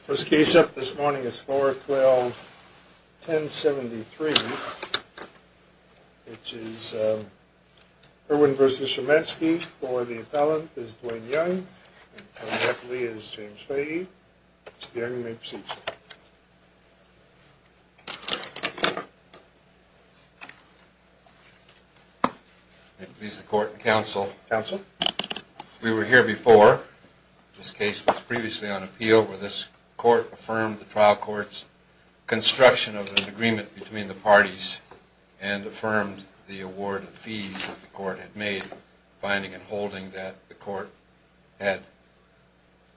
First case up this morning is 4-12-1073, which is Irwin v. Shymansky for the appellant is Duane Young, and co-deputy is James Fahey. Mr. Young, you may proceed, sir. We were here before. This case was previously on appeal where this court affirmed the trial court's construction of an agreement between the parties and affirmed the award of fees that the court had made, finding and holding that the court had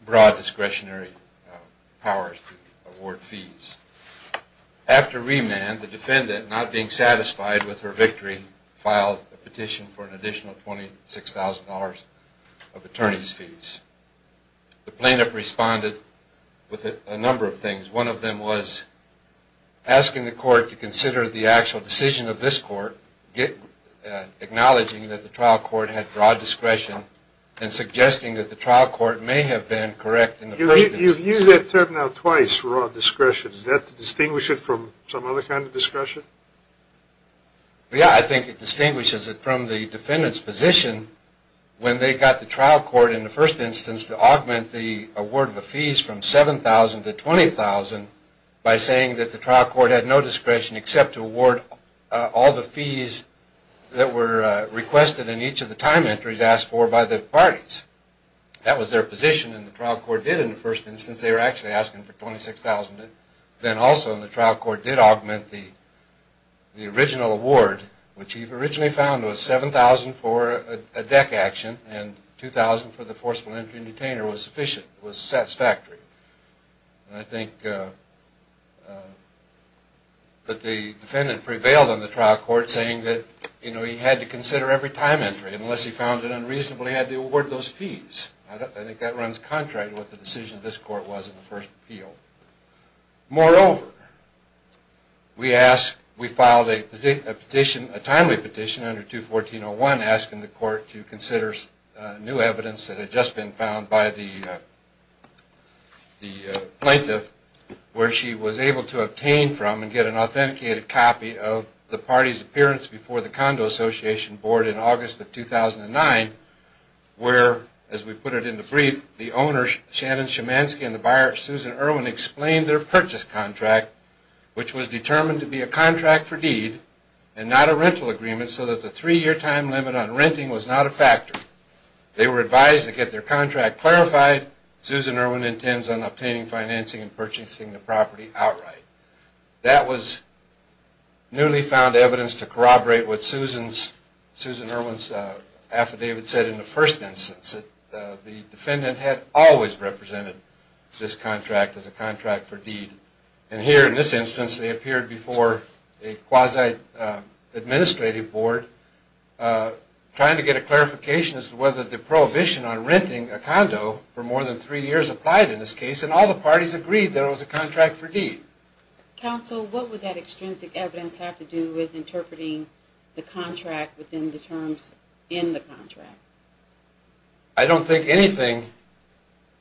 broad discretionary powers to award fees. After remand, the defendant, not being satisfied with her victory, filed a petition for an additional $26,000 of attorney's fees. The plaintiff responded with a number of things. One of them was asking the court to consider the actual decision of this court, acknowledging that the trial court had broad discretion and suggesting that the trial court may have been correct in the proceedings. You've used that term now twice, broad discretion. Is that to distinguish it from some other kind of discretion? Yeah, I think it distinguishes it from the defendant's position when they got the trial court in the first instance to augment the award of the fees from $7,000 to $20,000 by saying that the trial court had no discretion except to award all the fees that were requested in each of the time entries asked for by the parties. That was their position and the trial court did in the first instance, they were actually asking for $26,000. Then also the trial court did augment the original award, which he originally found was $7,000 for a deck action and $2,000 for the forcible entry and detainer was sufficient, was satisfactory. I think that the defendant prevailed on the trial court saying that he had to consider every time entry unless he found it unreasonable he had to award those fees. I think that runs contrary to what the decision of this court was in the first appeal. Moreover, we filed a timely petition under 214.01 asking the court to consider new evidence that had just been found by the plaintiff where she was able to obtain from and get an authenticated copy of the party's appearance before the Condo Association board in August of 2009. Where, as we put it in the brief, the owner, Shannon Shemansky, and the buyer, Susan Irwin, explained their purchase contract, which was determined to be a contract for deed and not a rental agreement, so that the three-year time limit on renting was not a factor. They were advised to get their contract clarified. Susan Irwin intends on obtaining financing and purchasing the property outright. That was newly found evidence to corroborate what Susan Irwin's affidavit said in the first instance, that the defendant had always represented this contract as a contract for deed. Counsel, what would that extrinsic evidence have to do with interpreting the contract within the terms in the contract? I don't think anything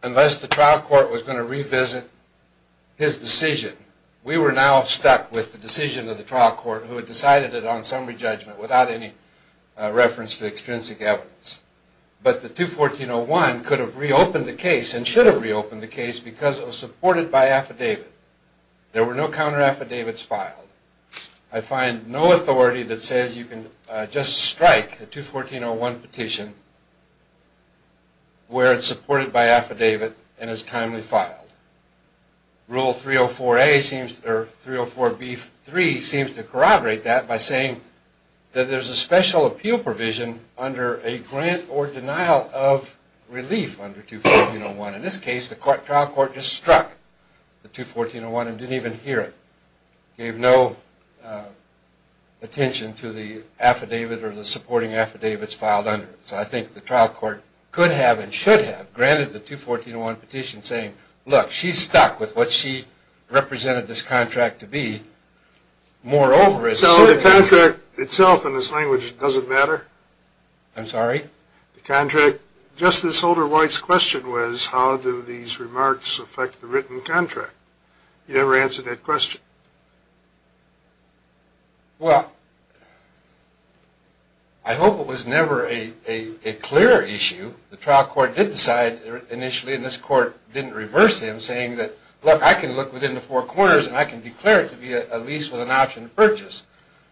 unless the trial court was going to revisit his decision. We were now stuck with the decision of the trial court who had decided it on summary judgment without any reference to extrinsic evidence. But the 214-01 could have reopened the case and should have reopened the case because it was supported by affidavit. There were no counter-affidavits filed. I find no authority that says you can just strike a 214-01 petition where it's supported by affidavit and is timely filed. Rule 304-B-3 seems to corroborate that by saying that there's a special appeal provision under a grant or denial of relief under 214-01. In this case, the trial court just struck the 214-01 and didn't even hear it. It gave no attention to the affidavit or the supporting affidavits filed under it. So I think the trial court could have and should have granted the 214-01 petition saying, look, she's stuck with what she represented this contract to be. So the contract itself in this language doesn't matter? I'm sorry? The contract, just this older wife's question was how do these remarks affect the written contract? You never answered that question. Well, I hope it was never a clearer issue. The trial court did decide initially and this court didn't reverse him saying that, look, I can look within the four corners and I can declare it to be a lease with an option to purchase.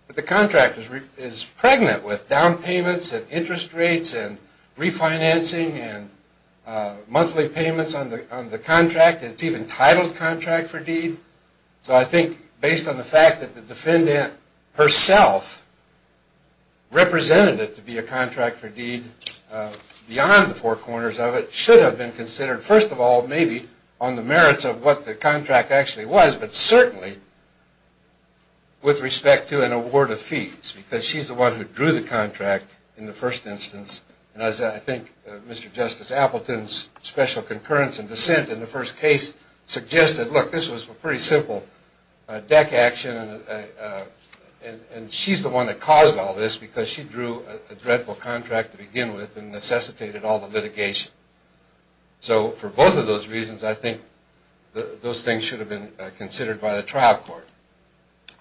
But the contract is pregnant with down payments and interest rates and refinancing and monthly payments on the contract. It's even titled contract for deed. So I think based on the fact that the defendant herself represented it to be a contract for deed beyond the four corners of it, should have been considered first of all maybe on the merits of what the contract actually was, but certainly with respect to an award of fees because she's the one who drew the contract in the first instance. And as I think Mr. Justice Appleton's special concurrence and dissent in the first case suggested, look, this was a pretty simple deck action and she's the one that caused all this because she drew a dreadful contract to begin with and necessitated all the litigation. So for both of those reasons, I think those things should have been considered by the trial court.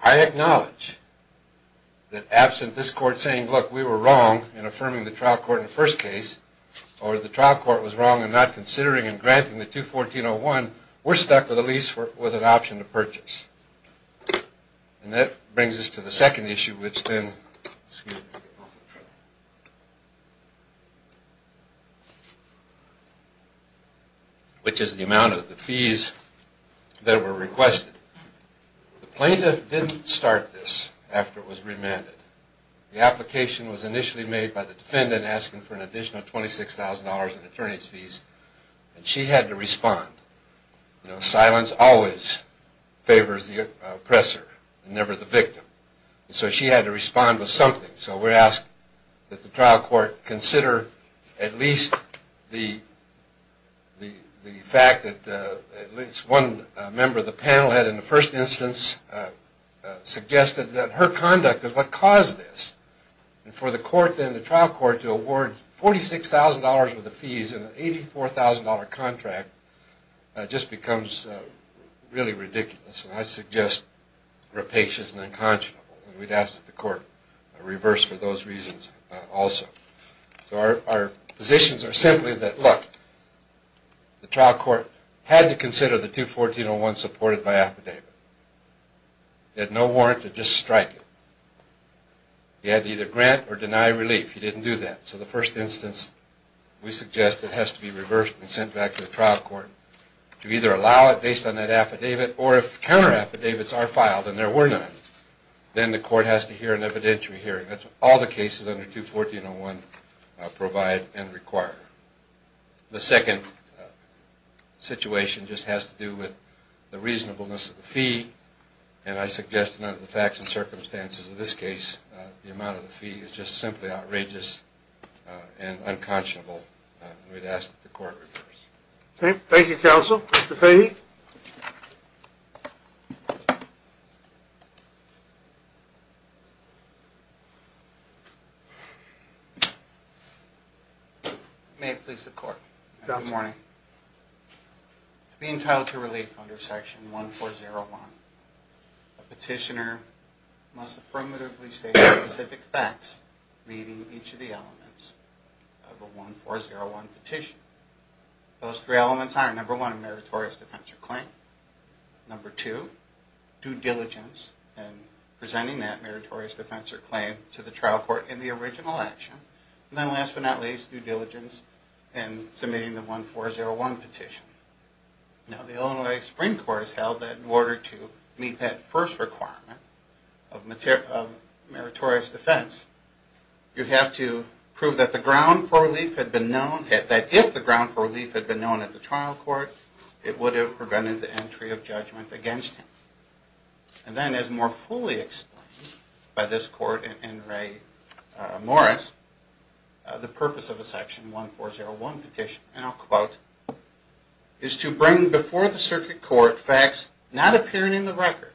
I acknowledge that absent this court saying, look, we were wrong in affirming the trial court in the first case or the trial court was wrong in not considering and granting the 214.01, we're stuck with at least with an option to purchase. And that brings us to the second issue, which is the amount of the fees that were requested. The plaintiff didn't start this after it was remanded. The application was initially made by the defendant asking for an additional $26,000 in attorney's fees and she had to respond. You know, silence always favors the oppressor and never the victim. So she had to respond with something. So we're asked that the trial court consider at least the fact that at least one member of the panel had in the first instance suggested that her conduct is what caused this. And for the court then, the trial court, to award $46,000 worth of fees in an $84,000 contract just becomes really ridiculous. And I suggest rapacious and unconscionable. And we'd ask that the court reverse for those reasons also. So our positions are simply that, look, the trial court had to consider the 214.01 supported by affidavit. It had no warrant to just strike it. You had to either grant or deny relief. You didn't do that. So the first instance, we suggest it has to be reversed and sent back to the trial court to either allow it based on that affidavit or if counter affidavits are filed and there were none, then the court has to hear an evidentiary hearing. That's what all the cases under 214.01 provide and require. The second situation just has to do with the reasonableness of the fee. And I suggest under the facts and circumstances of this case, the amount of the fee is just simply outrageous and unconscionable. And we'd ask that the court reverse. Thank you, counsel. Mr. Fahy? May it please the court. Good morning. To be entitled to relief under Section 1401, a petitioner must affirmatively state the specific facts reading each of the elements of a 1401 petition. Those three elements are number one, a meritorious defense or claim. Number two, due diligence in presenting that meritorious defense or claim to the trial court in the original action. And then last but not least, due diligence in submitting the 1401 petition. Now, the Illinois Supreme Court has held that in order to meet that first requirement of meritorious defense, you have to prove that if the ground for relief had been known at the trial court, it would have prevented the entry of judgment against him. And then as more fully explained by this court in Ray Morris, the purpose of a Section 1401 petition, and I'll quote, is to bring before the circuit court facts not appearing in the record,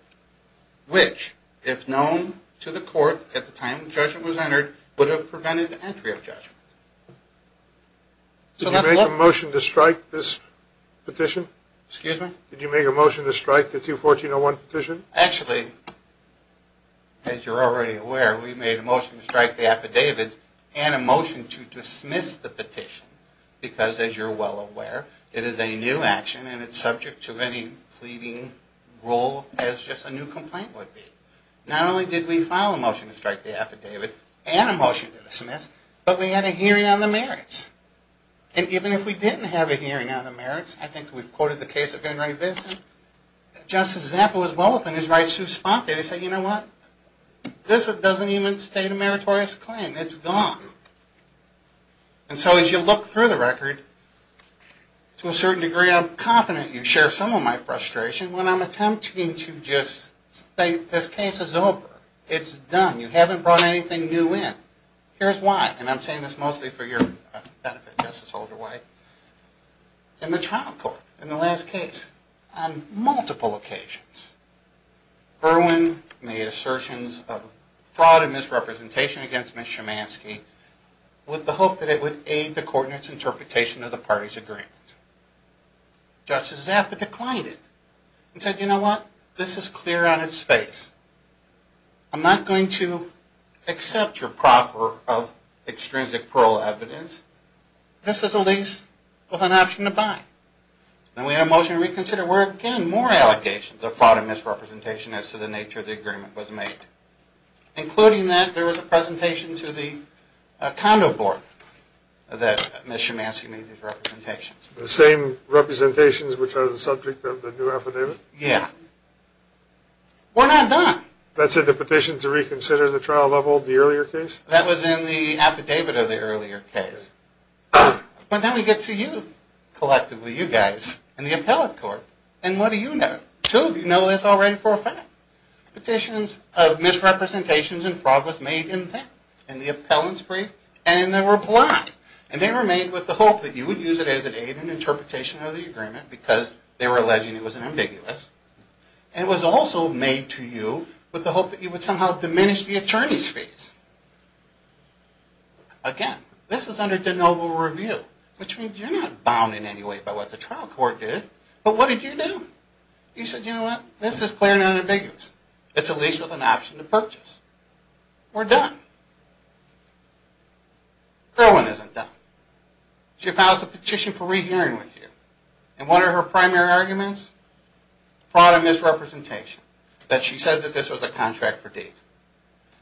which, if known to the court at the time the judgment was entered, would have prevented the entry of judgment. Did you make a motion to strike this petition? Excuse me? Did you make a motion to strike the 214.01 petition? Actually, as you're already aware, we made a motion to strike the affidavits and a motion to dismiss the petition. Because as you're well aware, it is a new action and it's subject to any pleading rule as just a new complaint would be. Not only did we file a motion to strike the affidavit and a motion to dismiss, but we had a hearing on the merits. And even if we didn't have a hearing on the merits, I think we've quoted the case of Ben Ray Benson, Justice Zappa was well within his right to sue Spock and he said, you know what? This doesn't even state a meritorious claim. It's gone. And so as you look through the record, to a certain degree I'm confident you share some of my frustration when I'm attempting to just state this case is over. It's done. You haven't brought anything new in. Here's why, and I'm saying this mostly for your benefit, Justice Holder-White. In the trial court, in the last case, on multiple occasions, Berwyn made assertions of fraud and misrepresentation against Ms. Shemansky with the hope that it would aid the court in its interpretation of the party's agreement. Justice Zappa declined it and said, you know what? This is clear on its face. I'm not going to accept your proper of extrinsic parole evidence. This is a lease with an option to buy. And we had a motion to reconsider where, again, more allegations of fraud and misrepresentation as to the nature of the agreement was made, including that there was a presentation to the condo board that Ms. Shemansky made these representations. The same representations which are the subject of the new affidavit? Yeah. We're not done. That said, the petition to reconsider the trial level of the earlier case? That was in the affidavit of the earlier case. But then we get to you, collectively, you guys, and the appellate court, and what do you know? Two of you know this already for a fact. Petitions of misrepresentations and fraud was made in that, in the appellant's brief, and they were blind. And they were made with the hope that you would use it as an aid in interpretation of the agreement because they were alleging it was ambiguous. And it was also made to you with the hope that you would somehow diminish the attorney's fees. Again, this is under de novo review, which means you're not bound in any way by what the trial court did, but what did you do? You said, you know what, this is clear and unambiguous. It's a lease with an option to purchase. We're done. Kerwin isn't done. She files a petition for rehearing with you, and one of her primary arguments? Fraud and misrepresentation, that she said that this was a contract for deed.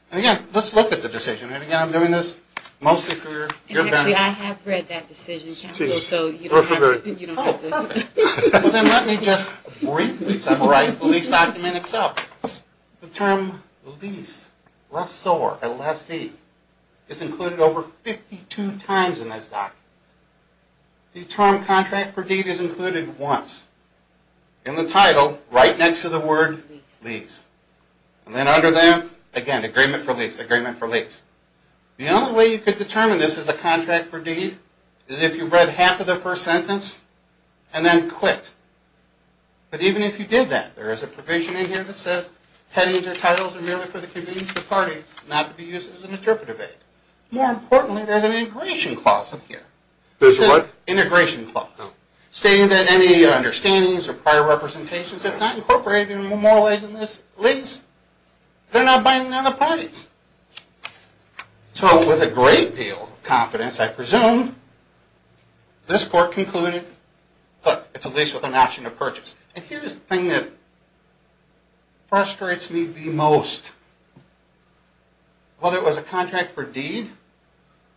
And again, let's look at the decision. And again, I'm doing this mostly for your benefit. Actually, I have read that decision, counsel, so you don't have to. Oh, perfect. Well, then let me just briefly summarize the lease document itself. The term lease, lessor, a lessee, is included over 52 times in this document. The term contract for deed is included once. In the title, right next to the word lease. And then under there, again, agreement for lease, agreement for lease. The only way you could determine this is a contract for deed is if you read half of the first sentence and then quit. But even if you did that, there is a provision in here that says, headings or titles are merely for the convenience of parties, not to be used as an interpretive aid. More importantly, there's an integration clause in here. There's a what? Integration clause. Oh. Stating that any understandings or prior representations, if not incorporated and memorialized in this lease, they're not binding on the parties. So with a great deal of confidence, I presume, this court concluded, look, it's a lease with an option to purchase. And here's the thing that frustrates me the most. Whether it was a contract for deed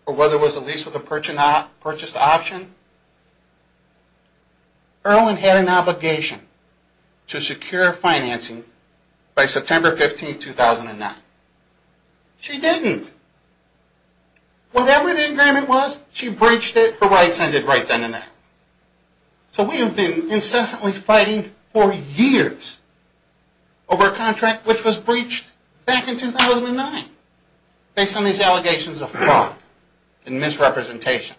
or whether it was a lease with a purchased option, Erwin had an obligation to secure financing by September 15, 2009. She didn't. Whatever the agreement was, she breached it. Her rights ended right then and there. So we have been incessantly fighting for years over a contract which was breached back in 2009 based on these allegations of fraud and misrepresentation.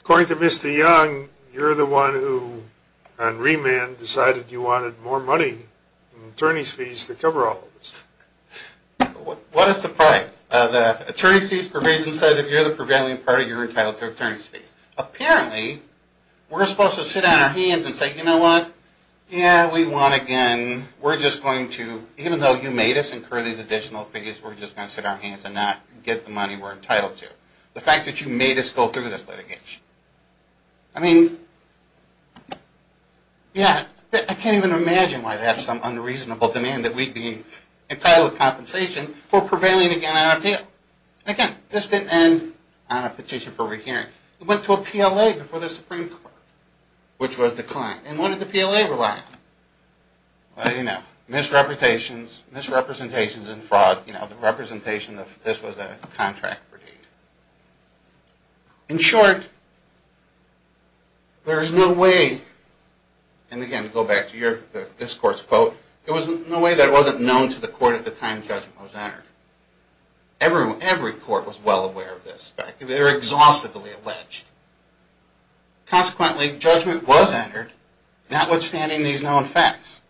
According to Mr. Young, you're the one who, on remand, decided you wanted more money in attorney's fees to cover all of this. What a surprise. The attorney's fees provision said if you're the prevailing party, you're entitled to attorney's fees. Apparently, we're supposed to sit on our hands and say, you know what? Yeah, we won again. We're just going to, even though you made us incur these additional fees, we're just going to sit on our hands and not get the money we're entitled to. The fact that you made us go through this litigation. I mean, yeah, I can't even imagine why they have some unreasonable demand that we'd be entitled to compensation for prevailing again on our deal. Again, this didn't end on a petition for rehearing. It went to a PLA before the Supreme Court, which was declined. And what did the PLA rely on? Well, you know, misrepresentations and fraud. You know, the representation that this was a contract for deed. In short, there is no way, and again, to go back to your discourse quote, there was no way that it wasn't known to the court at the time judgment was entered. Every court was well aware of this fact. They were exhaustively alleged. Consequently, judgment was entered, notwithstanding these known facts.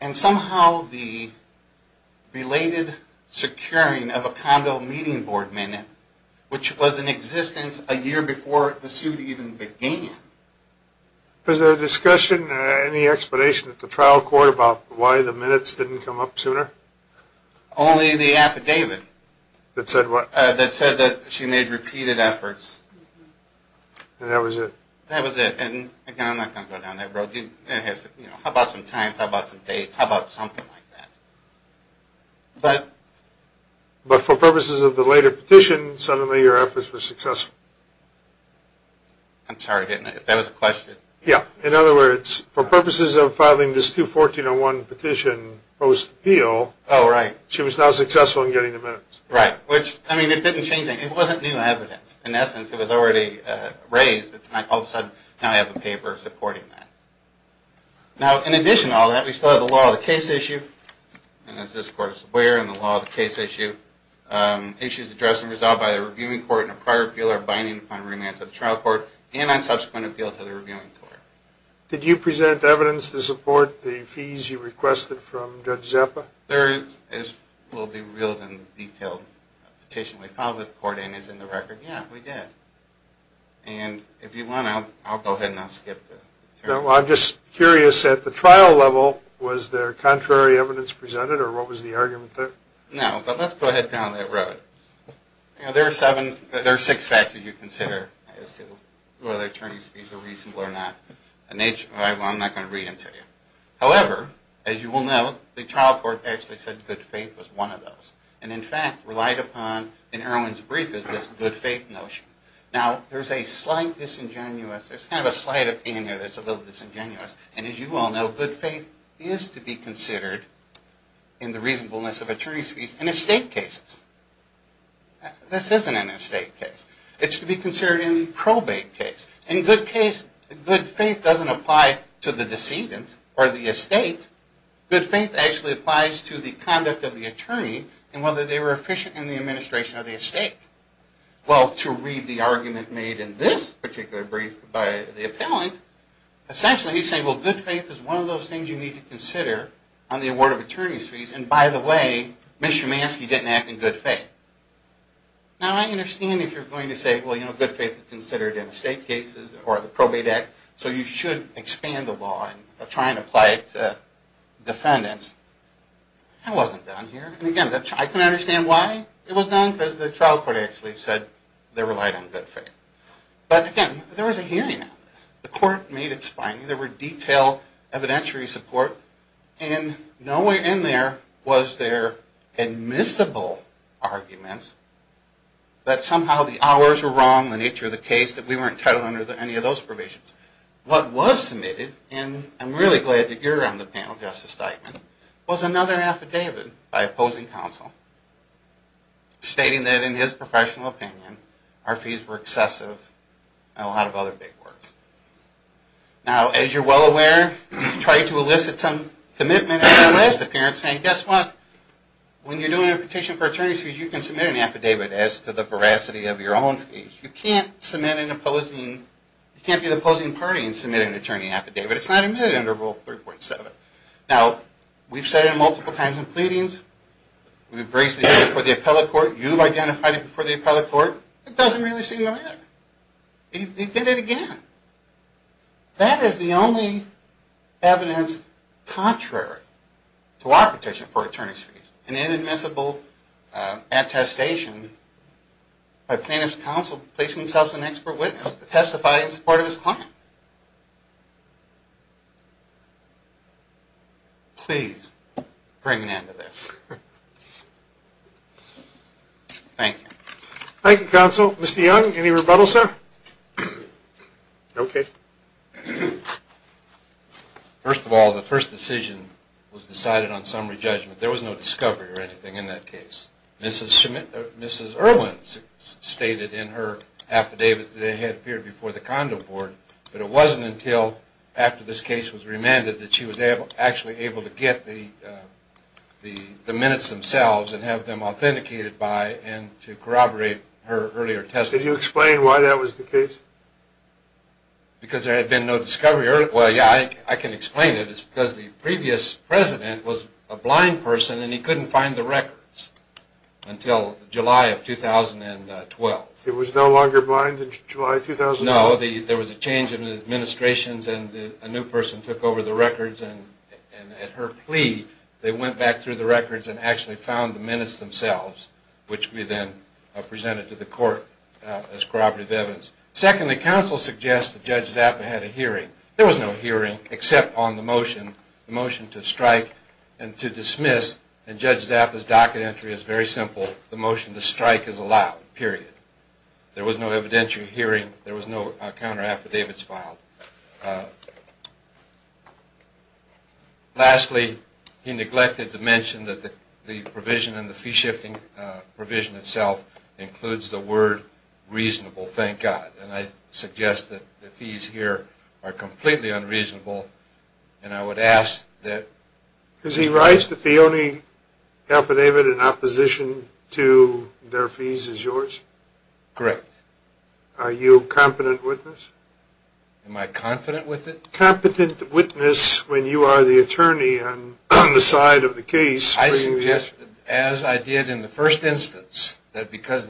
And somehow the belated securing of a condo meeting board minute, which was in existence a year before the suit even began. Was there a discussion or any explanation at the trial court about why the minutes didn't come up sooner? Only the affidavit. That said what? That said that she made repeated efforts. And that was it? That was it. And again, I'm not going to go down that road. How about some times? How about some dates? How about something like that? But? But for purposes of the later petition, suddenly your efforts were successful. I'm sorry, didn't I? That was the question? Yeah. In other words, for purposes of filing this 214-01 petition post-appeal, she was now successful in getting the minutes. Right. Which, I mean, it didn't change anything. It wasn't new evidence. In essence, it was already raised. All of a sudden, now I have a paper supporting that. Now, in addition to all that, we still have the law of the case issue. And as this Court is aware, in the law of the case issue, issues addressed and resolved by the reviewing court in a prior appeal are binding upon remand to the trial court and on subsequent appeal to the reviewing court. Did you present evidence to support the fees you requested from Judge Zeppa? There is, as will be revealed in the detailed petition we filed with the court in, is in the record. Yeah, we did. And if you want, I'll go ahead and I'll skip that. No, I'm just curious. At the trial level, was there contrary evidence presented, or what was the argument there? No, but let's go ahead down that road. There are seven, there are six factors you consider as to whether attorney's fees are reasonable or not. I'm not going to read them to you. However, as you will know, the trial court actually said good faith was one of those. And in fact, relied upon in Erwin's brief is this good faith notion. Now, there's a slight disingenuous, there's kind of a slight of anger that's a little disingenuous. And as you all know, good faith is to be considered in the reasonableness of attorney's fees in estate cases. This isn't an estate case. It's to be considered in the probate case. In good faith, good faith doesn't apply to the decedent or the estate. Good faith actually applies to the conduct of the attorney and whether they were efficient in the administration of the estate. Well, to read the argument made in this particular brief by the appellant, essentially he's saying, well, good faith is one of those things you need to consider on the award of attorney's fees. And by the way, Ms. Schumanski didn't act in good faith. Now, I understand if you're going to say, well, you know, good faith is considered in estate cases or the probate act, so you should expand the law in trying to apply it to defendants. That wasn't done here. And again, I can understand why it was done, because the trial court actually said they relied on good faith. But again, there was a hearing. The court made its finding. There were detailed evidentiary support. And nowhere in there was there admissible argument that somehow the hours were wrong, the nature of the case, that we weren't entitled under any of those provisions. What was submitted, and I'm really glad that you're on the panel, Justice Steigman, was another affidavit by opposing counsel, stating that in his professional opinion, our fees were excessive and a lot of other big words. Now, as you're well aware, you try to elicit some commitment in your last appearance saying, guess what? When you're doing a petition for attorney's fees, you can submit an affidavit as to the veracity of your own fees. You can't submit an opposing, you can't be the opposing party in submitting an attorney affidavit. It's not admitted under Rule 3.7. Now, we've said it multiple times in pleadings. We've raised the issue before the appellate court. You've identified it before the appellate court. It doesn't really seem to matter. They did it again. That is the only evidence contrary to our petition for attorney's fees, an inadmissible attestation by plaintiff's counsel placing himself as an expert witness to testify in support of his client. Please bring an end to this. Thank you. Thank you, Counsel. Mr. Young, any rebuttal, sir? Okay. First of all, the first decision was decided on summary judgment. There was no discovery or anything in that case. Mrs. Irwin stated in her affidavit that it had appeared before the condo board, but it wasn't until after this case was remanded that she was actually able to get the minutes themselves and have them authenticated by and to corroborate her earlier testimony. Could you explain why that was the case? Because there had been no discovery. Well, yeah, I can explain it. It's because the previous president was a blind person, and he couldn't find the records until July of 2012. He was no longer blind in July 2012? No. There was a change in the administrations, and a new person took over the records, and at her plea they went back through the records and actually found the minutes themselves, which we then presented to the court as corroborative evidence. Secondly, counsel suggests that Judge Zappa had a hearing. There was no hearing except on the motion, the motion to strike and to dismiss, and Judge Zappa's docket entry is very simple. The motion to strike is allowed, period. There was no evidentiary hearing. There was no counter affidavits filed. Lastly, he neglected to mention that the provision in the fee-shifting provision itself includes the word reasonable, thank God, and I suggest that the fees here are completely unreasonable, and I would ask that... Is he right that the only affidavit in opposition to their fees is yours? Correct. Are you a competent witness? Am I confident with it? Competent witness when you are the attorney on the side of the case... The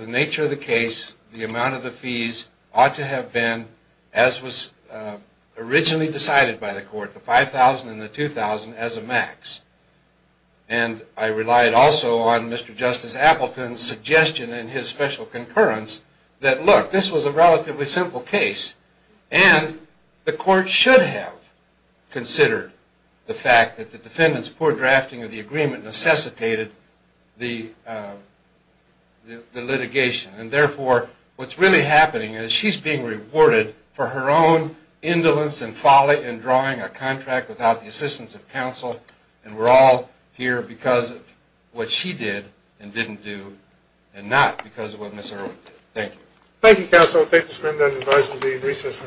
nature of the case, the amount of the fees ought to have been as was originally decided by the court, the $5,000 and the $2,000 as a max, and I relied also on Mr. Justice Appleton's suggestion and his special concurrence that, look, this was a relatively simple case, and the court should have considered the fact that the defendant's poor drafting of the agreement necessitated the litigation. And, therefore, what's really happening is she's being rewarded for her own indolence and folly in drawing a contract without the assistance of counsel, and we're all here because of what she did and didn't do and not because of what Ms. Irwin did. Thank you. Thank you, counsel. Thank you, Mr. Menden. I advise we'll be in recess.